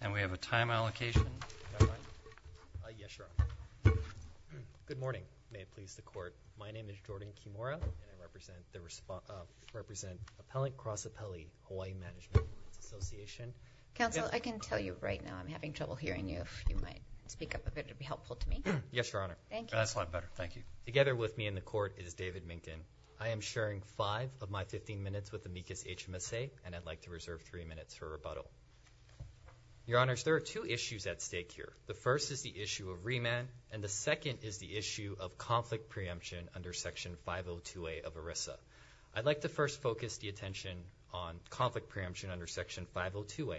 and we have a time allocation. Good morning may it please the court my name is Jordan Kimura and I represent the Appellant Cross Appellee Hawaii Management Association. Council I can tell you right now I'm having trouble hearing you if you might speak up a bit it'll be helpful to me. Yes your honor. Thank you. That's a lot better thank you. Together with me in the court is David Minkin. I am sharing five of my 15 minutes with Amicus HMSA and I'd like to Your honors there are two issues at stake here. The first is the issue of remand and the second is the issue of conflict preemption under section 502a of ERISA. I'd like to first focus the attention on conflict preemption under section 502a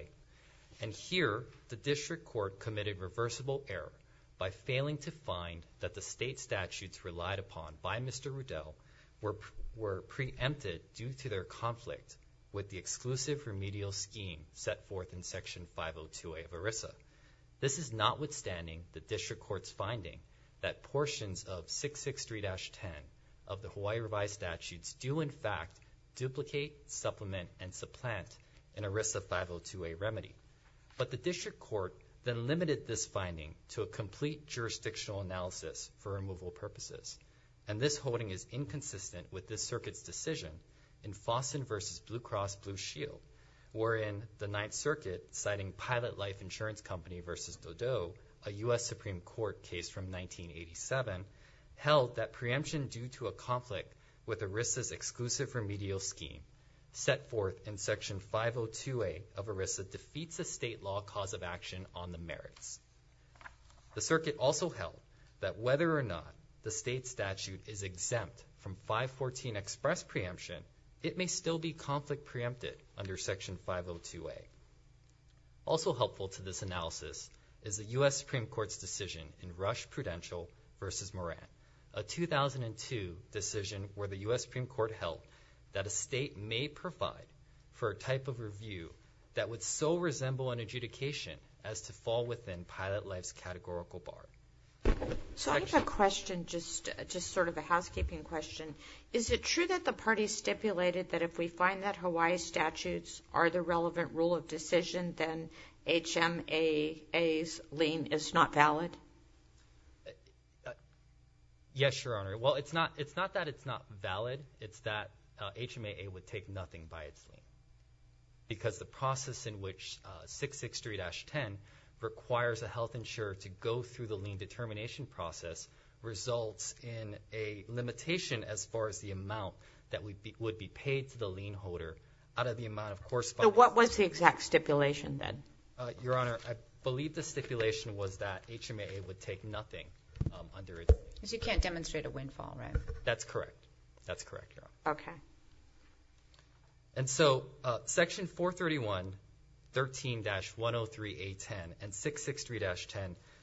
and here the district court committed reversible error by failing to find that the state statutes relied upon by Mr. Rudel were were preempted due to their conflict with the exclusive remedial scheme set forth in section 502a of ERISA. This is notwithstanding the district court's finding that portions of 663-10 of the Hawaii revised statutes do in fact duplicate supplement and supplant in ERISA 502a remedy but the district court then limited this finding to a complete jurisdictional analysis for removal purposes and this holding is Austin versus Blue Cross Blue Shield or in the Ninth Circuit citing Pilot Life Insurance Company versus Dodo a US Supreme Court case from 1987 held that preemption due to a conflict with ERISA's exclusive remedial scheme set forth in section 502a of ERISA defeats a state law cause of action on the merits. The circuit also held that whether or not the state statute is exempt from 514 express preemption it may still be conflict preempted under section 502a. Also helpful to this analysis is the US Supreme Court's decision in Rush Prudential versus Moran a 2002 decision where the US Supreme Court held that a state may provide for a type of review that would so resemble an adjudication as to fall within Pilot Life's categorical bar. So I have a question just sort of a housekeeping question. Is it true that the party stipulated that if we find that Hawaii statutes are the relevant rule of decision then HMAA's lien is not valid? Yes your honor well it's not it's not that it's not valid it's that HMAA would take nothing by its name because the process in which 663-10 requires a health insurer to go through the lien determination process results in a limitation as far as the amount that we would be paid to the lien holder out of the amount of course. So what was the exact stipulation then? Your honor I believe the stipulation was that HMAA would take nothing under it. Because you can't demonstrate a windfall right? That's correct that's correct. Okay. And so section 431 13-103a10 and 663-10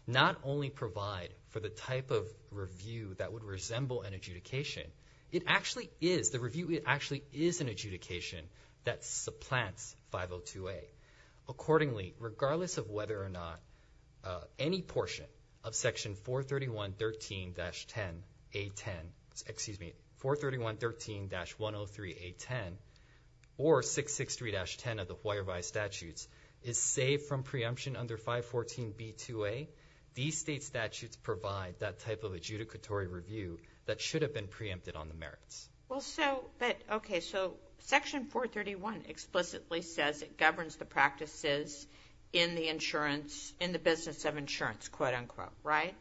not only provide for the type of review that would resemble an adjudication it actually is the review it actually is an adjudication that supplants 502a accordingly regardless of whether or not any portion of section 431 13-10a10 excuse me 431 13-103a10 or 663-10 of the Hawaii statutes is saved from preemption under 514b2a these state statutes provide that type of adjudicatory review that should have been preempted on the merits. Well so but okay so section 431 explicitly says it governs the practices in the insurance in the business of insurance quote-unquote right?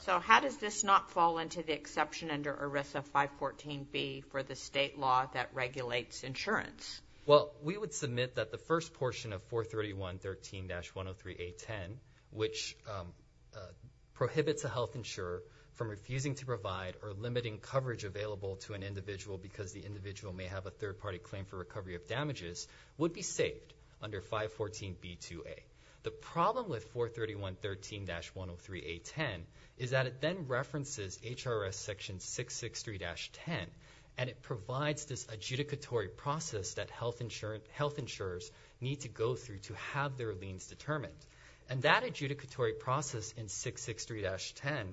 So how does this not fall into the exception under ERISA 514b for the state law that regulates insurance? Well we would submit that the first portion of 431 13-103a10 which prohibits a health insurer from refusing to provide or limiting coverage available to an individual because the individual may have a third-party claim for recovery of damages would be saved under 514b2a. The problem with 431 13-103a10 is that it then references HRS section 663-10 and it provides this adjudicatory process that health insurance health insurers need to go through to have their liens determined and that adjudicatory process in 663-10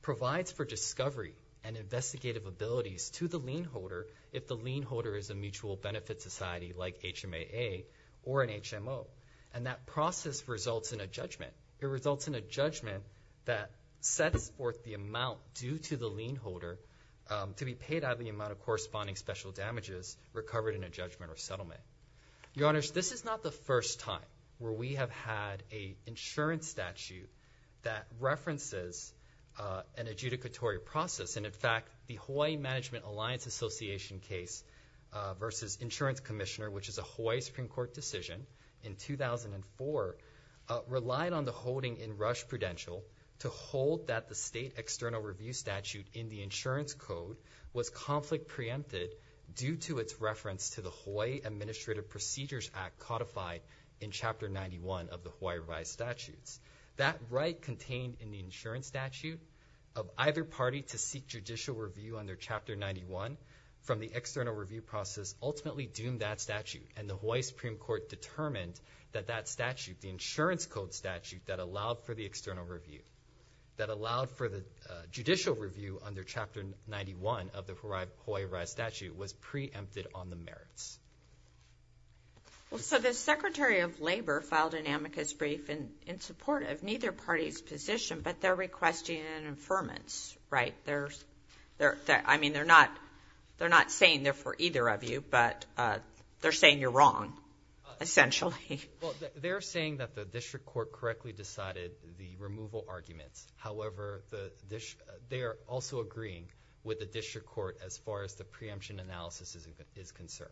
provides for discovery and investigative abilities to the lien holder if the lien holder is a mutual benefit society like HMAA or an HMO and that process results in a judgment. It results in a judgment that sets forth the amount due to the recovered in a judgment or settlement. Your honors this is not the first time where we have had a insurance statute that references an adjudicatory process and in fact the Hawaii Management Alliance Association case versus insurance commissioner which is a Hawaii Supreme Court decision in 2004 relied on the holding in Rush Prudential to hold that the state external review statute in the insurance code was conflict preempted due to its reference to the Hawaii Administrative Procedures Act codified in Chapter 91 of the Hawaii revised statutes. That right contained in the insurance statute of either party to seek judicial review under Chapter 91 from the external review process ultimately doomed that statute and the Hawaii Supreme Court determined that that statute the insurance code statute that allowed for the external review that allowed for the judicial review under Chapter 91 of the Hawaii revised statute was preempted on the merits. Well so the Secretary of Labor filed an amicus brief and in support of neither party's position but they're requesting an affirmance right there's there I mean they're not they're not saying they're for either of you but they're saying you're wrong essentially. Well they're saying that the district court correctly decided the removal arguments however they are also agreeing with the district court as far as the preemption analysis is concerned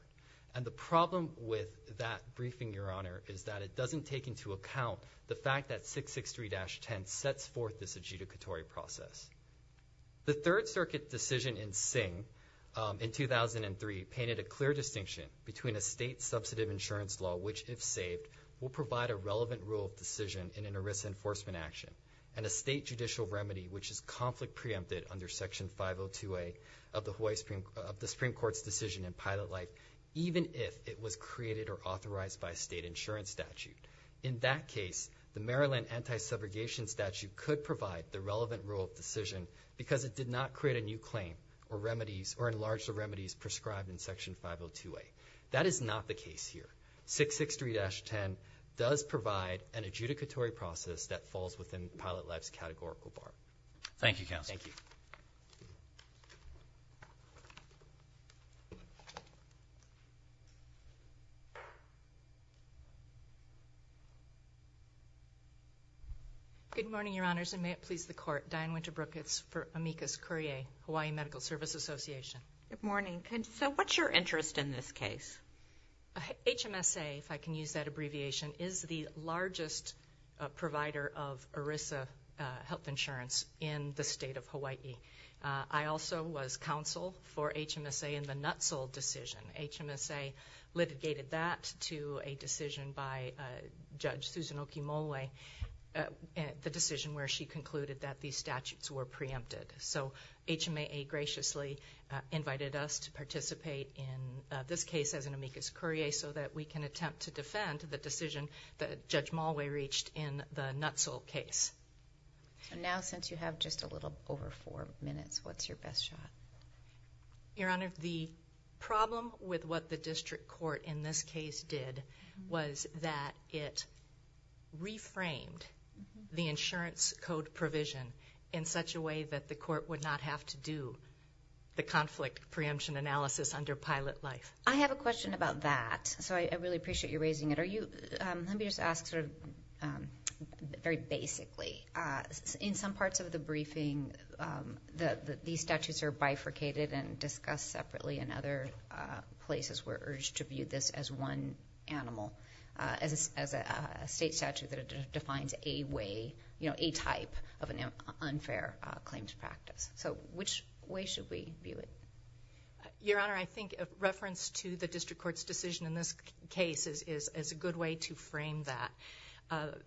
and the problem with that briefing your honor is that it doesn't take into account the fact that 663-10 sets forth this adjudicatory process. The Third Circuit decision in Singh in 2003 painted a clear distinction between a state subsidive insurance law which if saved will provide a relevant rule of decision in an ERISA enforcement action and a state judicial remedy which is conflict preempted under section 502a of the Supreme Court's decision in pilot light even if it was created or authorized by state insurance statute. In that case the Maryland anti-subrogation statute could provide the relevant rule of decision because it did not create a new claim or remedies or enlarge the remedies prescribed in section 502a. That is not the case here. 663-10 does provide an adjudicatory process that falls within Pilot Life's categorical bar. Thank you counsel. Good morning your honors and may it please the court Diane Winterbrook it's for amicus courier Hawaii Medical Service Association. Good morning and so what's your interest in this case? HMSA if I can use that abbreviation is the largest provider of ERISA health insurance in the state of Hawaii. I also was counsel for HMSA in the Nutzle decision. HMSA litigated that to a decision by Judge Susan Okimole and the decision where she concluded that these in this case as an amicus courier so that we can attempt to defend the decision that Judge Mulway reached in the Nutzle case. And now since you have just a little over four minutes what's your best shot? Your honor the problem with what the district court in this case did was that it reframed the insurance code provision in such a way that the court would not have to do the Pilot Life. I have a question about that so I really appreciate you raising it. Are you let me just ask sort of very basically in some parts of the briefing that these statutes are bifurcated and discussed separately and other places were urged to view this as one animal as a state statute that defines a way you know a type of an unfair claims practice. So which way should we view it? Your reference to the district court's decision in this case is a good way to frame that.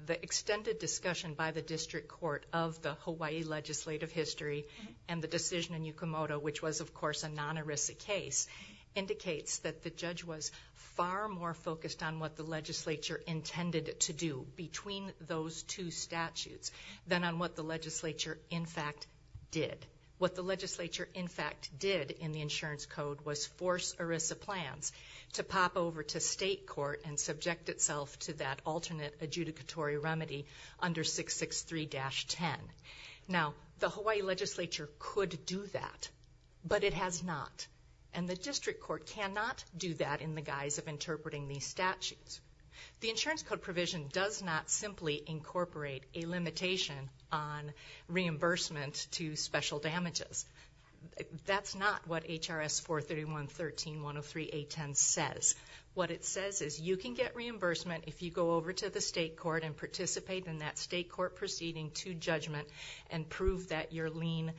The extended discussion by the district court of the Hawaii legislative history and the decision in Yukimoto which was of course a non-ERISA case indicates that the judge was far more focused on what the legislature intended to do between those two statutes than on what the legislature in fact did. What the legislature in fact did in the insurance code was force ERISA plans to pop over to state court and subject itself to that alternate adjudicatory remedy under 663-10. Now the Hawaii legislature could do that but it has not and the district court cannot do that in the guise of interpreting these statutes. The insurance code provision does not simply incorporate a limitation on reimbursement to special damages. That's not what HRS 431-13-103-810 says. What it says is you can get reimbursement if you go over to the state court and participate in that state court proceeding to judgment and prove that your lien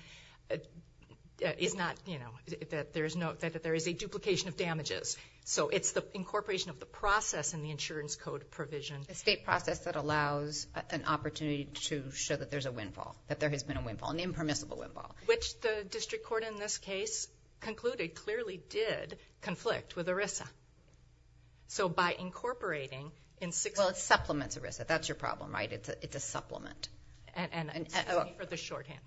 is not you know that there's no that there is a duplication of damages. So it's the incorporation of the process in the insurance code provision. A state process that allows an opportunity to show that there's a windfall that there has been a windfall an impermissible windfall. Which the district court in this case concluded clearly did conflict with ERISA. So by incorporating in 663-103-103-8106... Well it supplements ERISA. That's your problem right? It's a supplement.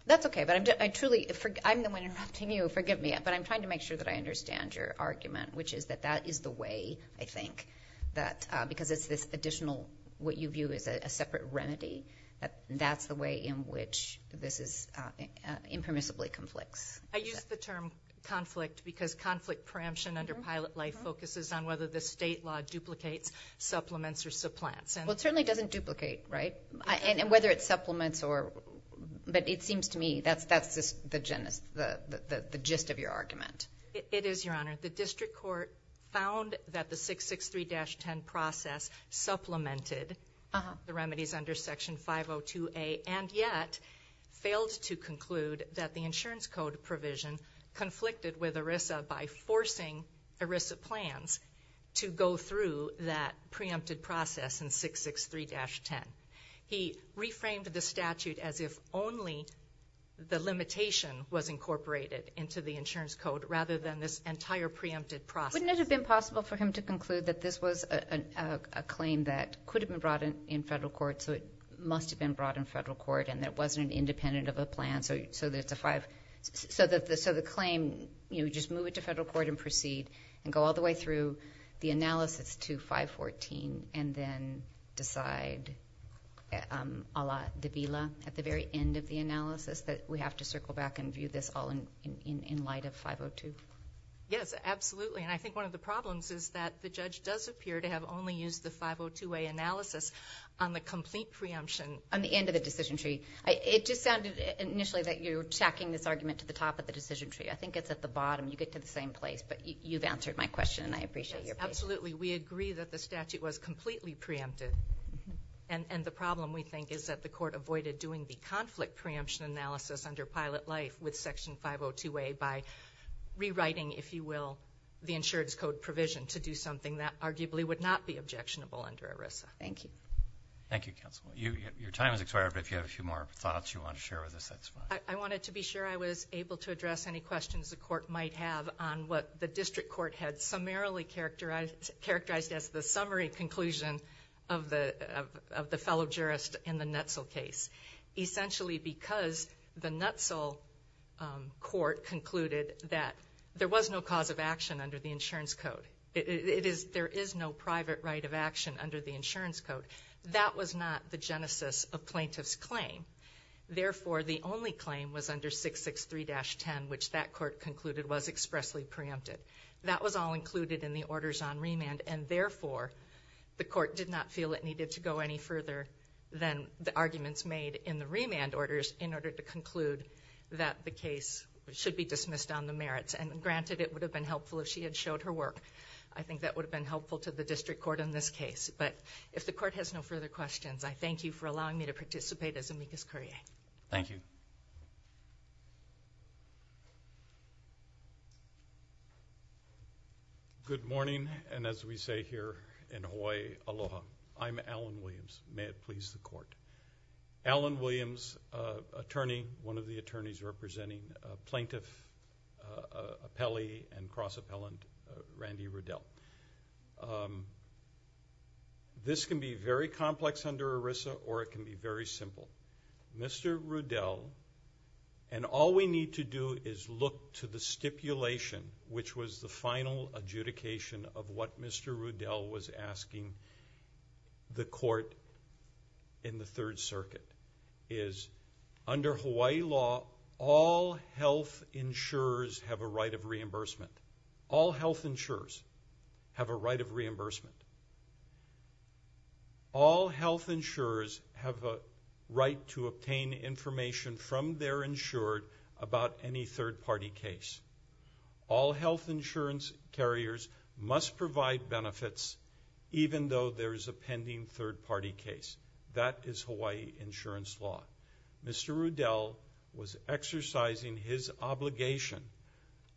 That's okay but I'm truly... I'm the one interrupting you. Forgive me. But I'm trying to make sure that I understand your argument which is that that is the way I think that because it's this additional what you view is a separate remedy that that's the way in which this is impermissibly complex. I use the term conflict because conflict preemption under pilot life focuses on whether the state law duplicates supplements or supplants. Well it certainly doesn't duplicate right? And whether it supplements or... but it seems to me that's that's just the gist of your argument. It is Your Honor. The district court found that the 663-10 process supplemented the remedies under section 502A and yet failed to conclude that the insurance code provision conflicted with ERISA by forcing ERISA plans to go through that preempted process in 663-10. He reframed the statute as if only the limitation was incorporated into the insurance code rather than this entire preempted process. Wouldn't it have been possible for him to conclude that this was a claim that could have been brought in in federal court so it must have been brought in federal court and that wasn't an independent of a plan so that it's a five so that the so the claim you just move it to federal court and proceed and go all the way through the analysis to 514 and then decide a la de Villa at the very end of the analysis that we have to circle back and view this all in light of 502? Yes absolutely and I think one of the problems is that the judge does appear to have only used the 502A analysis on the complete preemption. On the end of the decision tree it just sounded initially that you're tacking this argument to the top of the decision tree I think it's at the bottom you get to the same place but you've answered my question and I appreciate your patience. Absolutely we agree that the statute was completely preempted and and the problem we think is that the court avoided doing the conflict preemption analysis under pilot life with section 502A by rewriting if you will the insurance code provision to do something that arguably would not be objectionable under ERISA. Thank you. Thank you counsel you your time is expired but if you have a few more thoughts you want to share with us that's fine. I wanted to be sure I was able to address any questions the court might have on what the district court had summarily characterized as the summary conclusion of the of the fellow jurist in the NETSL case. Essentially because the NETSL court concluded that there was no cause of action under the insurance code it is there is no private right of action under the insurance code that was not the genesis of plaintiffs claim therefore the only claim was under 663-10 which that court concluded was expressly preempted that was all included in the orders on remand and therefore the court did not feel it needed to go any further than the arguments made in the remand orders in order to conclude that the case should be dismissed on the merits and granted it would have been helpful if she had showed her work I think that would have been helpful to the district court in this case but if the court has no further questions I thank you for allowing me to participate as amicus curiae. Thank you. Good morning and as we say here in Hawaii aloha I'm Alan Williams may it please the court. Alan Williams attorney one of the appellee and cross-appellant Randy Rudell. This can be very complex under ERISA or it can be very simple. Mr. Rudell and all we need to do is look to the stipulation which was the final adjudication of what Mr. Rudell was right of reimbursement. All health insurers have a right of reimbursement. All health insurers have a right to obtain information from their insured about any third-party case. All health insurance carriers must provide benefits even though there is a pending third-party case. That is Hawaii insurance law. Mr. Rudell was exercising his obligation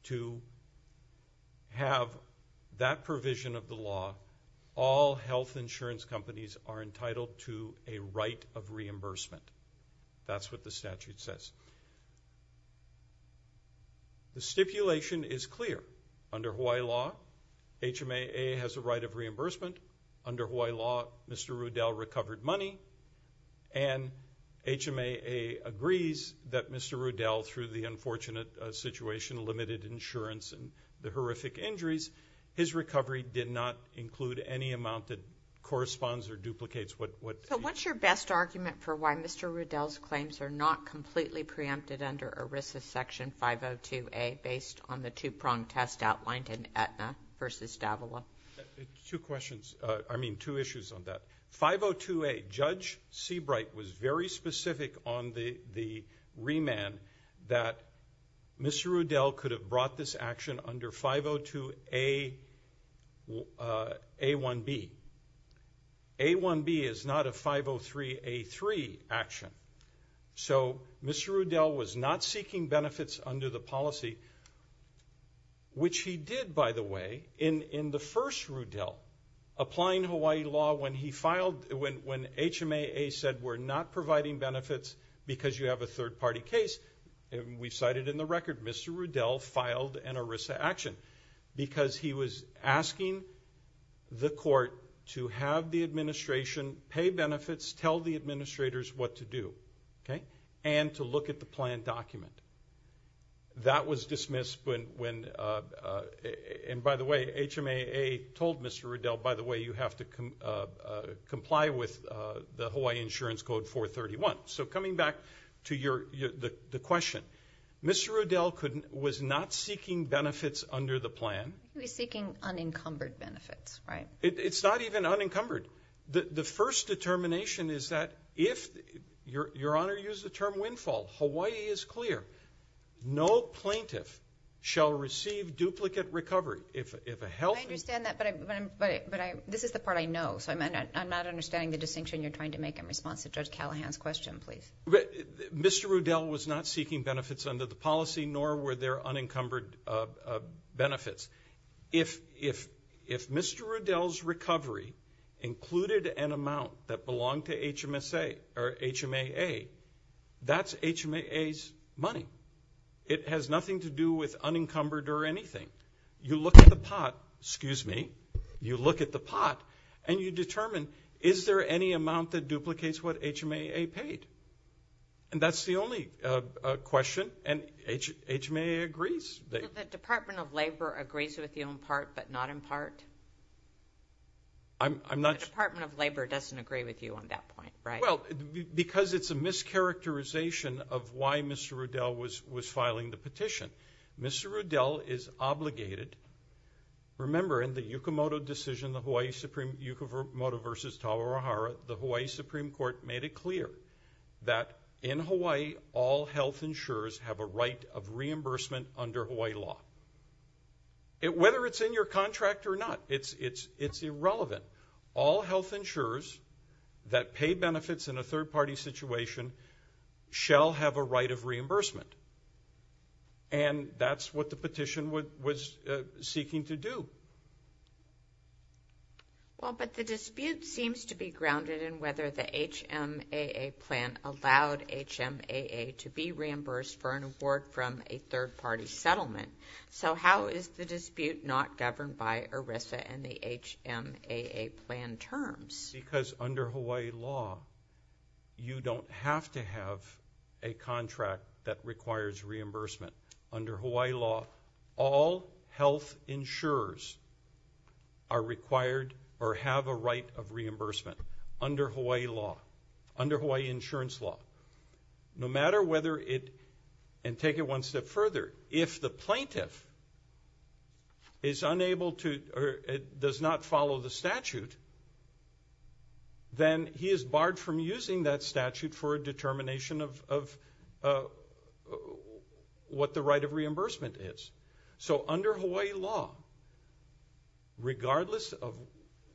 to have that provision of the law. All health insurance companies are entitled to a right of reimbursement. That's what the statute says. The stipulation is clear under Hawaii law HMAA has a right of reimbursement. Under Hawaii law Mr. HMAA agrees that Mr. Rudell through the unfortunate situation limited insurance and the horrific injuries his recovery did not include any amount that corresponds or duplicates what what so what's your best argument for why Mr. Rudell's claims are not completely preempted under ERISA section 502 a based on the two-prong test outlined in Aetna versus Davila two questions I mean two issues on that 502 a judge Seabright was very specific on the the remand that Mr. Rudell could have brought this action under 502 a a1b a1b is not a 503 a3 action so Mr. Rudell was not seeking benefits under the policy which he did by the way in in the first Rudell applying Hawaii law when he filed when when HMAA said we're not providing benefits because you have a third-party case and we cited in the record Mr. Rudell filed an ERISA action because he was asking the court to have the administration pay benefits tell the administrators what to do okay and to look at the plan document that was and by the way HMAA told Mr. Rudell by the way you have to comply with the Hawaii Insurance Code 431 so coming back to your the question Mr. Rudell couldn't was not seeking benefits under the plan he's seeking unencumbered benefits right it's not even unencumbered the the first determination is that if your your honor use the term windfall Hawaii is clear no plaintiff shall receive duplicate recovery if if a hell this is the part I know so I'm not understanding the distinction you're trying to make in response to judge Callahan's question please Mr. Rudell was not seeking benefits under the policy nor were there unencumbered benefits if if if Mr. Rudell's recovery included an amount that belonged to HMSA or HMAA that's HMAA's money it has nothing to do with unencumbered or anything you look at the pot excuse me you look at the pot and you determine is there any amount that duplicates what HMAA paid and that's the only question and HMAA agrees the Department of Labor agrees with the part but not in part I'm not Department of Labor doesn't agree with you on that point right well because it's a mischaracterization of why Mr. Rudell was was filing the petition Mr. Rudell is obligated remember in the Yukimoto decision the Hawaii Supreme Yukimoto versus Tawahara the Hawaii Supreme Court made it clear that in Hawaii all health insurers have a right of reimbursement under Hawaii law it whether it's in your contract or not it's it's it's irrelevant all health insurers that pay benefits in a third-party situation shall have a right of reimbursement and that's what the petition would was seeking to do well but the dispute seems to be grounded in whether the HMAA plan allowed HMAA to be reimbursed for an award from a third-party settlement so how is the dispute not governed by ERISA and the HMAA plan terms because under Hawaii law you don't have to have a contract that requires reimbursement under Hawaii law all health insurers are required or have a right of no matter whether it and take it one step further if the plaintiff is unable to or it does not follow the statute then he is barred from using that statute for a determination of what the right of reimbursement is so under Hawaii law regardless of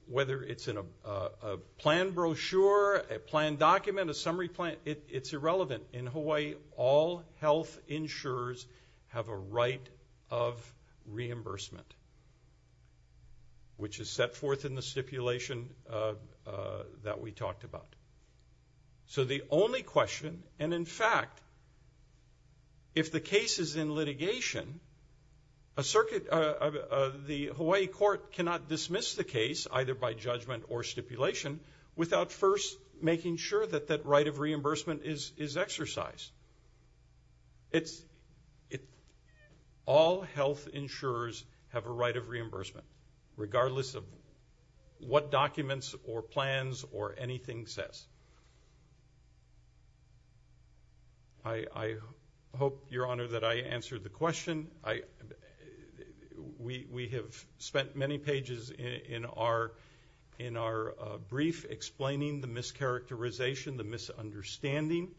whether it's in a plan brochure a plan document a it's irrelevant in Hawaii all health insurers have a right of reimbursement which is set forth in the stipulation that we talked about so the only question and in fact if the case is in litigation a circuit of the Hawaii Court cannot dismiss the case either by judgment or stipulation without first making sure that that right of reimbursement is is exercised it's it all health insurers have a right of reimbursement regardless of what documents or plans or anything says I I hope your honor that I answered the question I we we have spent many pages in our in our brief explaining the mischaracterization the misunderstanding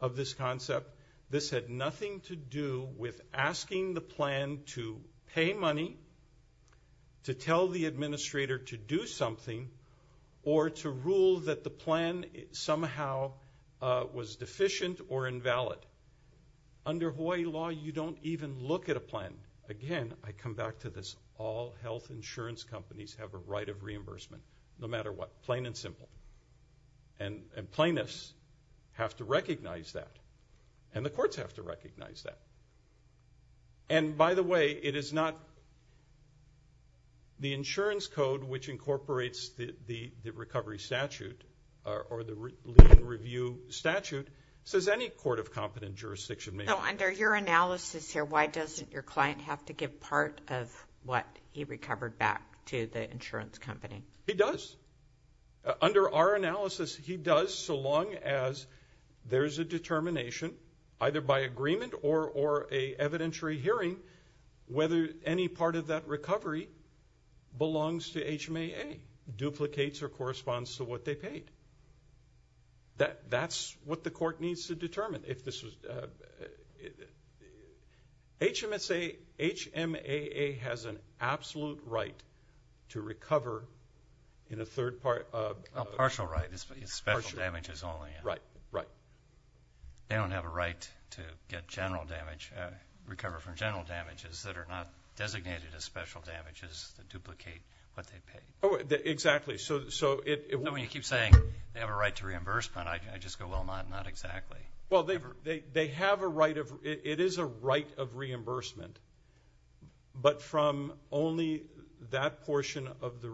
of this concept this had nothing to do with asking the plan to pay money to tell the administrator to do something or to rule that the plan somehow was deficient or invalid under Hawaii law you don't even look at a plan again I come back to this all health insurance companies have a right of reimbursement no matter what plain and plaintiffs have to recognize that and the courts have to recognize that and by the way it is not the insurance code which incorporates the the recovery statute or the review statute says any court of competent jurisdiction now under your analysis here why doesn't your client have to give part of what he does so long as there's a determination either by agreement or or a evidentiary hearing whether any part of that recovery belongs to HMAA duplicates or corresponds to what they paid that that's what the court needs to determine if this was HMSA HMAA has an absolute right to recover in a third part of a special damages only right right they don't have a right to get general damage recover from general damages that are not designated as special damages to duplicate what they pay oh exactly so so it when you keep saying they have a right to reimbursement I just go well not not exactly well they've they have a right of it is a right of reimbursement but from only that portion of the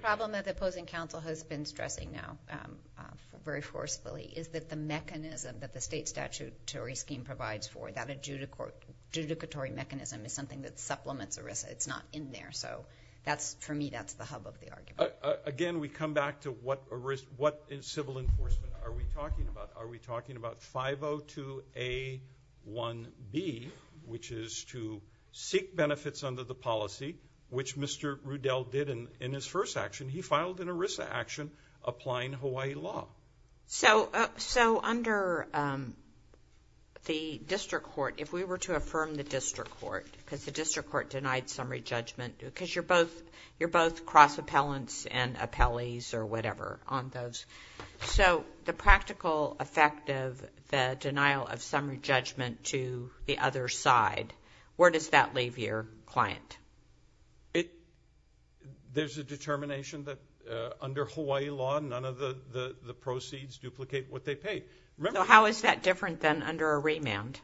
problem that the opposing counsel has been stressing now very forcefully is that the mechanism that the state statutory scheme provides for that a judicatory mechanism is something that supplements a risk it's not in there so that's for me that's the hub of the argument again we come back to what a risk what in civil enforcement are we talking about are we talking about 502 a 1b which is to seek benefits under the policy which mr. Rudell did and in his first action he filed an Arisa action applying Hawaii law so so under the district court if we were to affirm the district court because the district court denied summary judgment because you're both you're both cross appellants and appellees or whatever on those so the practical effect of the denial of summary judgment to the other side where does that leave your client it there's a determination that under Hawaii law none of the the proceeds duplicate what they pay remember how is that different than under a remand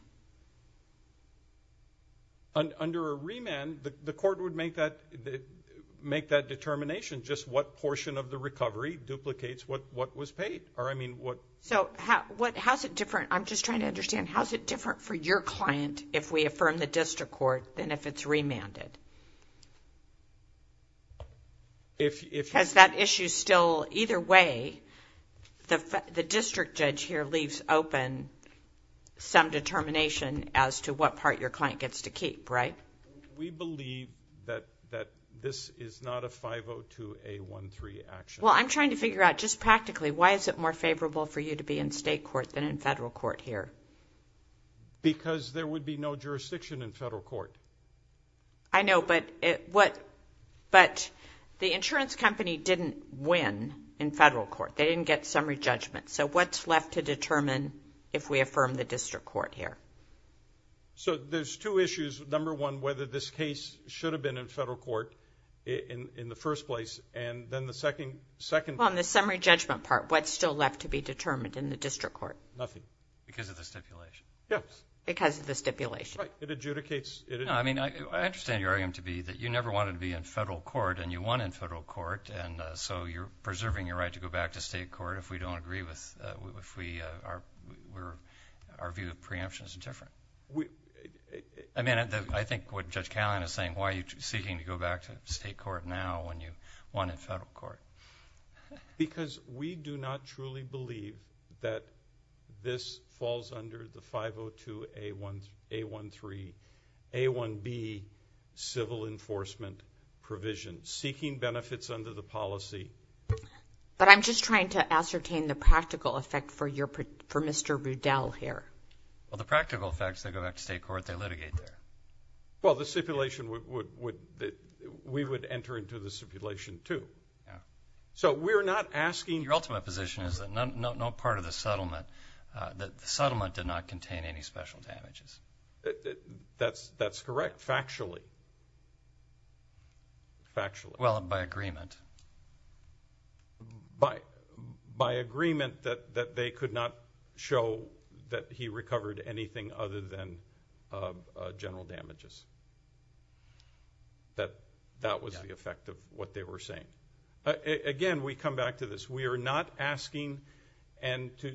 under a remand the court would make that make that determination just what portion of the recovery duplicates what what was paid or I mean what so how what how's it different I'm just trying to understand how's it different for your client if we if it has that issue still either way the district judge here leaves open some determination as to what part your client gets to keep right we believe that that this is not a 502 a 1-3 action well I'm trying to figure out just practically why is it more favorable for you to be in state court than in federal court here because there would be no jurisdiction in federal court I know but what but the insurance company didn't win in federal court they didn't get summary judgment so what's left to determine if we affirm the district court here so there's two issues number one whether this case should have been in federal court in in the first place and then the second second on the summary judgment part what's still left to be determined in the district court nothing because of the stipulation yes because of the stipulation it adjudicates I mean I understand you're going to be that you never wanted to be in federal court and you won in federal court and so you're preserving your right to go back to state court if we don't agree with if we are we're our view of preemption is different we I mean I think what judge Callan is saying why are you seeking to go back to state court now when you won in federal court because we do not truly believe that this falls under the 502 a 1 a 1 3 a 1 B civil enforcement provision seeking benefits under the policy but I'm just trying to ascertain the practical effect for your for mr. Rudell here well the practical effects they go back to state court they litigate there well the stipulation would we would enter into the stipulation too so we're not asking your ultimate position is that no no part of the settlement that the settlement did not contain any special damages that's that's correct factually factually well by agreement by by agreement that that they could not show that he recovered anything other than general damages that that was the effect of what they were saying again we come back to this we are not asking and to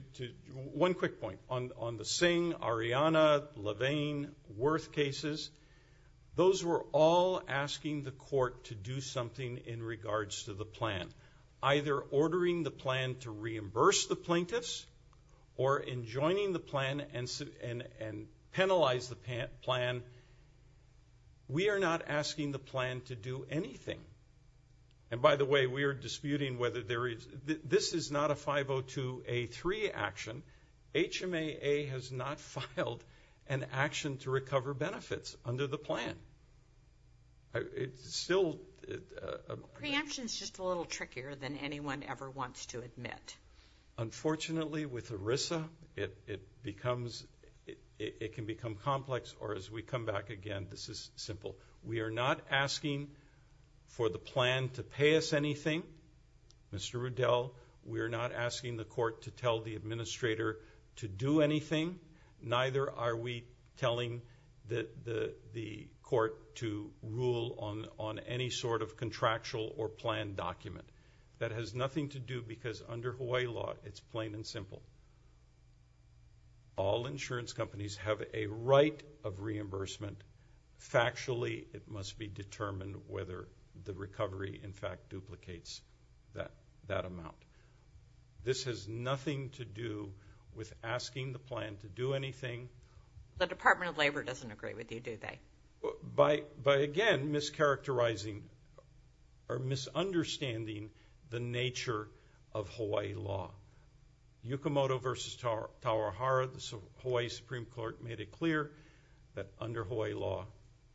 one quick point on on the same Ariana Levine worth cases those were all asking the court to do something in regards to the plan either ordering the plan to reimburse the plaintiffs or in joining the plan and and and penalize the pan plan we are not asking the plan to do anything and by the way we are disputing whether there is this is not a 502 a 3 action HMA a has not filed an action to recover benefits under the plan it's still a little trickier than anyone ever wants to admit unfortunately with Arisa it it becomes it can become complex or as we are not asking for the plan to pay us anything we're not asking the court to tell the administrator to do anything neither are we telling that the court to rule on on any sort of contractual or plan document that has nothing to do because under Hawaii law it's plain and simple all insurance companies have a of reimbursement factually it must be determined whether the recovery in fact duplicates that that amount this has nothing to do with asking the plan to do anything the Department of Labor doesn't agree with you do they by by again mischaracterizing or misunderstanding the nature of Hawaii law yukimoto versus tower tower horror the Hawaii Supreme Court made it clear that under Hawaii law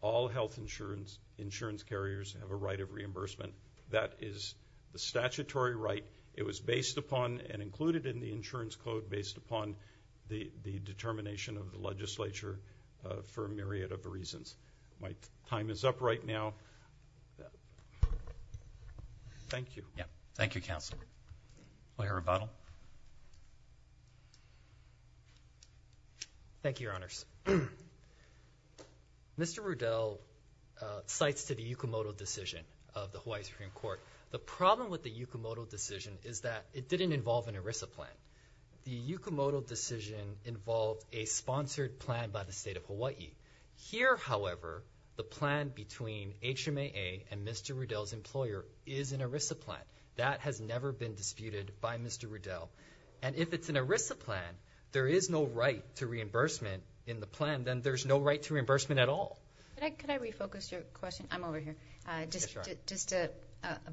all health insurance insurance carriers have a right of reimbursement that is the statutory right it was based upon and included in the insurance code based upon the the determination of the legislature for a myriad of reasons my time is up right now thank you thank you counsel thank you your honors mr. Riddell cites to the yukimoto decision of the Hawaii Supreme Court the problem with the yukimoto decision is that it didn't involve an Arisa plan the yukimoto decision involved a sponsored plan by mr. Riddell's employer is an Arisa plan that has never been disputed by mr. Riddell and if it's an Arisa plan there is no right to reimbursement in the plan then there's no right to reimbursement at all I'm over here just just a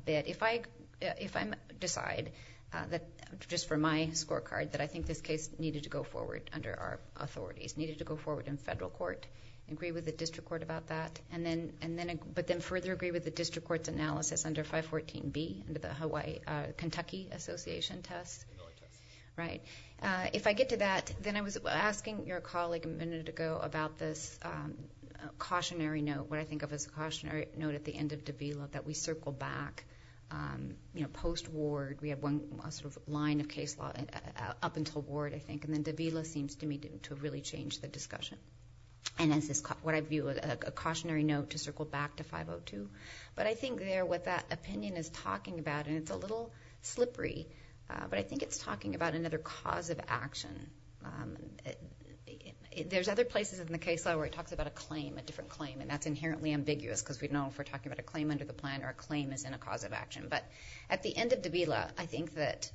bit if I if I decide that just for my scorecard that I think this case needed to go forward under our authorities needed to go forward in federal court agree with the district court about that and then and but then further agree with the district courts analysis under 514 B the Hawaii Kentucky Association test right if I get to that then I was asking your colleague a minute ago about this cautionary note what I think of as a cautionary note at the end of Davila that we circle back you know post ward we have one sort of line of case law up until board I think and then Davila seems to me to really change the discussion and as this what I view a back to 502 but I think they're what that opinion is talking about and it's a little slippery but I think it's talking about another cause of action there's other places in the case law where he talks about a claim a different claim and that's inherently ambiguous because we know if we're talking about a claim under the plan or a claim is in a cause of action but at the end of Davila I think that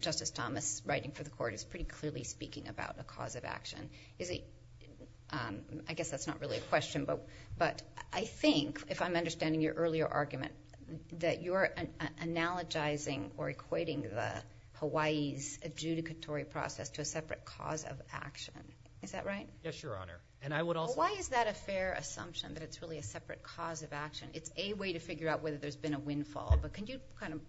justice Thomas writing for the court is pretty clearly speaking about the cause of action is he I guess that's not really a question but but I think if I'm understanding your earlier argument that you're an analogizing or equating the Hawaii's adjudicatory process to a separate cause of action is that right yes your honor and I would also why is that a fair assumption that it's really a separate cause of action it's a way to figure out whether there's been a windfall but can you kind of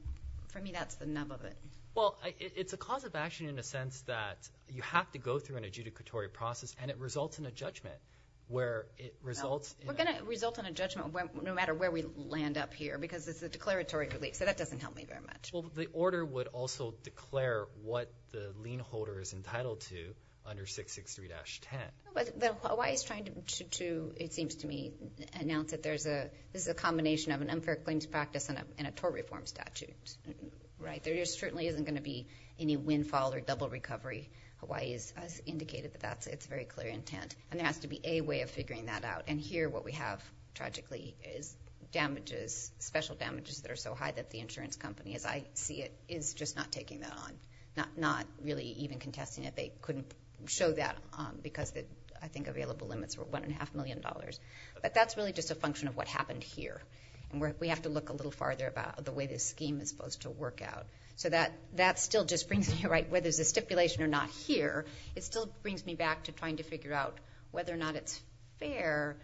for me that's the nub of it well it's a cause of action in a sense that you have to go through an adjudicatory process and it results in a judgment where it results we're gonna result in a judgment no matter where we land up here because it's a declaratory relief so that doesn't help me very much well the order would also declare what the lien holder is entitled to under 663 dash 10 but why is trying to to it seems to me announce that there's a there's a combination of an unfair claims practice and a tort reform statute right there just certainly isn't going to be any windfall or double recovery Hawaii's as indicated but that's it's very clear intent and there has to be a way of figuring that out and here what we have tragically is damages special damages that are so high that the insurance company as I see it is just not taking that on not not really even contesting it they couldn't show that because that I think available limits were one and a half million dollars but that's really just a function of what happened here and we have to look a little farther about the way this scheme is supposed to there's a stipulation or not here it still brings me back to trying to figure out whether or not it's fair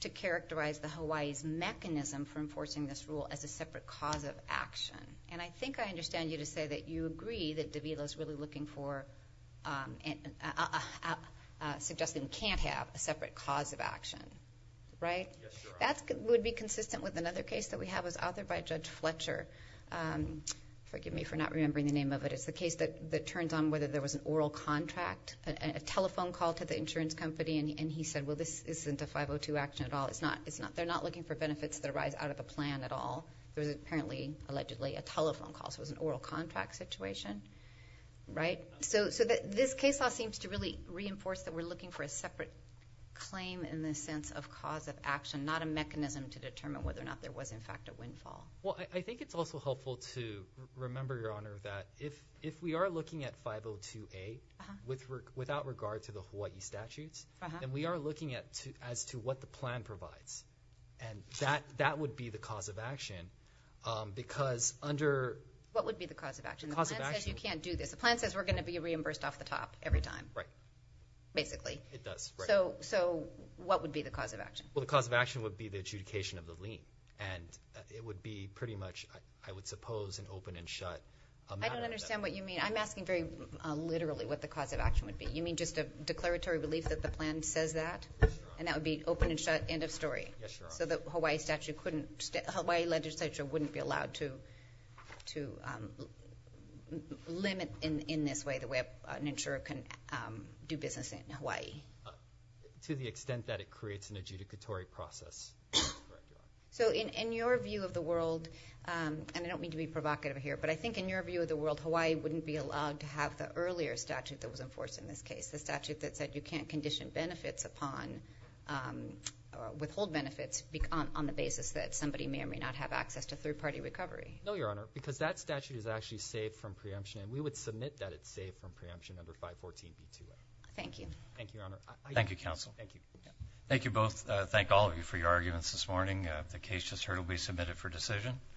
to characterize the Hawaii's mechanism for enforcing this rule as a separate cause of action and I think I understand you to say that you agree that Davila is really looking for and suggesting we can't have a separate cause of action right that's good would be consistent with another case that we have was authored by Judge Fletcher forgive me for not remembering the name of it is the case that that turns on whether there was an oral contract a telephone call to the insurance company and he said well this isn't a 502 action at all it's not it's not they're not looking for benefits that arise out of a plan at all there was apparently allegedly a telephone call so it was an oral contract situation right so so that this case law seems to really reinforce that we're looking for a separate claim in this sense of cause of action not a mechanism to determine whether or not there was in fact a windfall well I think it's also helpful to remember your honor that if if we are looking at 502 a with work without regard to the Hawaii statutes and we are looking at to as to what the plan provides and that that would be the cause of action because under what would be the cause of action you can't do this the plan says we're gonna be reimbursed off the top every time right basically it does so so what would be the cause of action well the cause of action would be the adjudication of the lien and it would be pretty much I would suppose an open and shut I don't understand what you mean I'm asking very literally what the cause of action would be you mean just a declaratory relief that the plan says that and that would be open and shut end of story so that Hawaii statute couldn't Hawaii legislature wouldn't be allowed to to limit in in this way the way an insurer can do business in Hawaii to the so in in your view of the world and I don't mean to be provocative here but I think in your view of the world Hawaii wouldn't be allowed to have the earlier statute that was enforced in this case the statute that said you can't condition benefits upon withhold benefits on the basis that somebody may or may not have access to third-party recovery no your honor because that statute is actually saved from preemption and we would submit that it's safe from preemption number 514 thank you thank you counsel thank you thank thank all of you for your arguments this morning the case just heard will be submitted for decision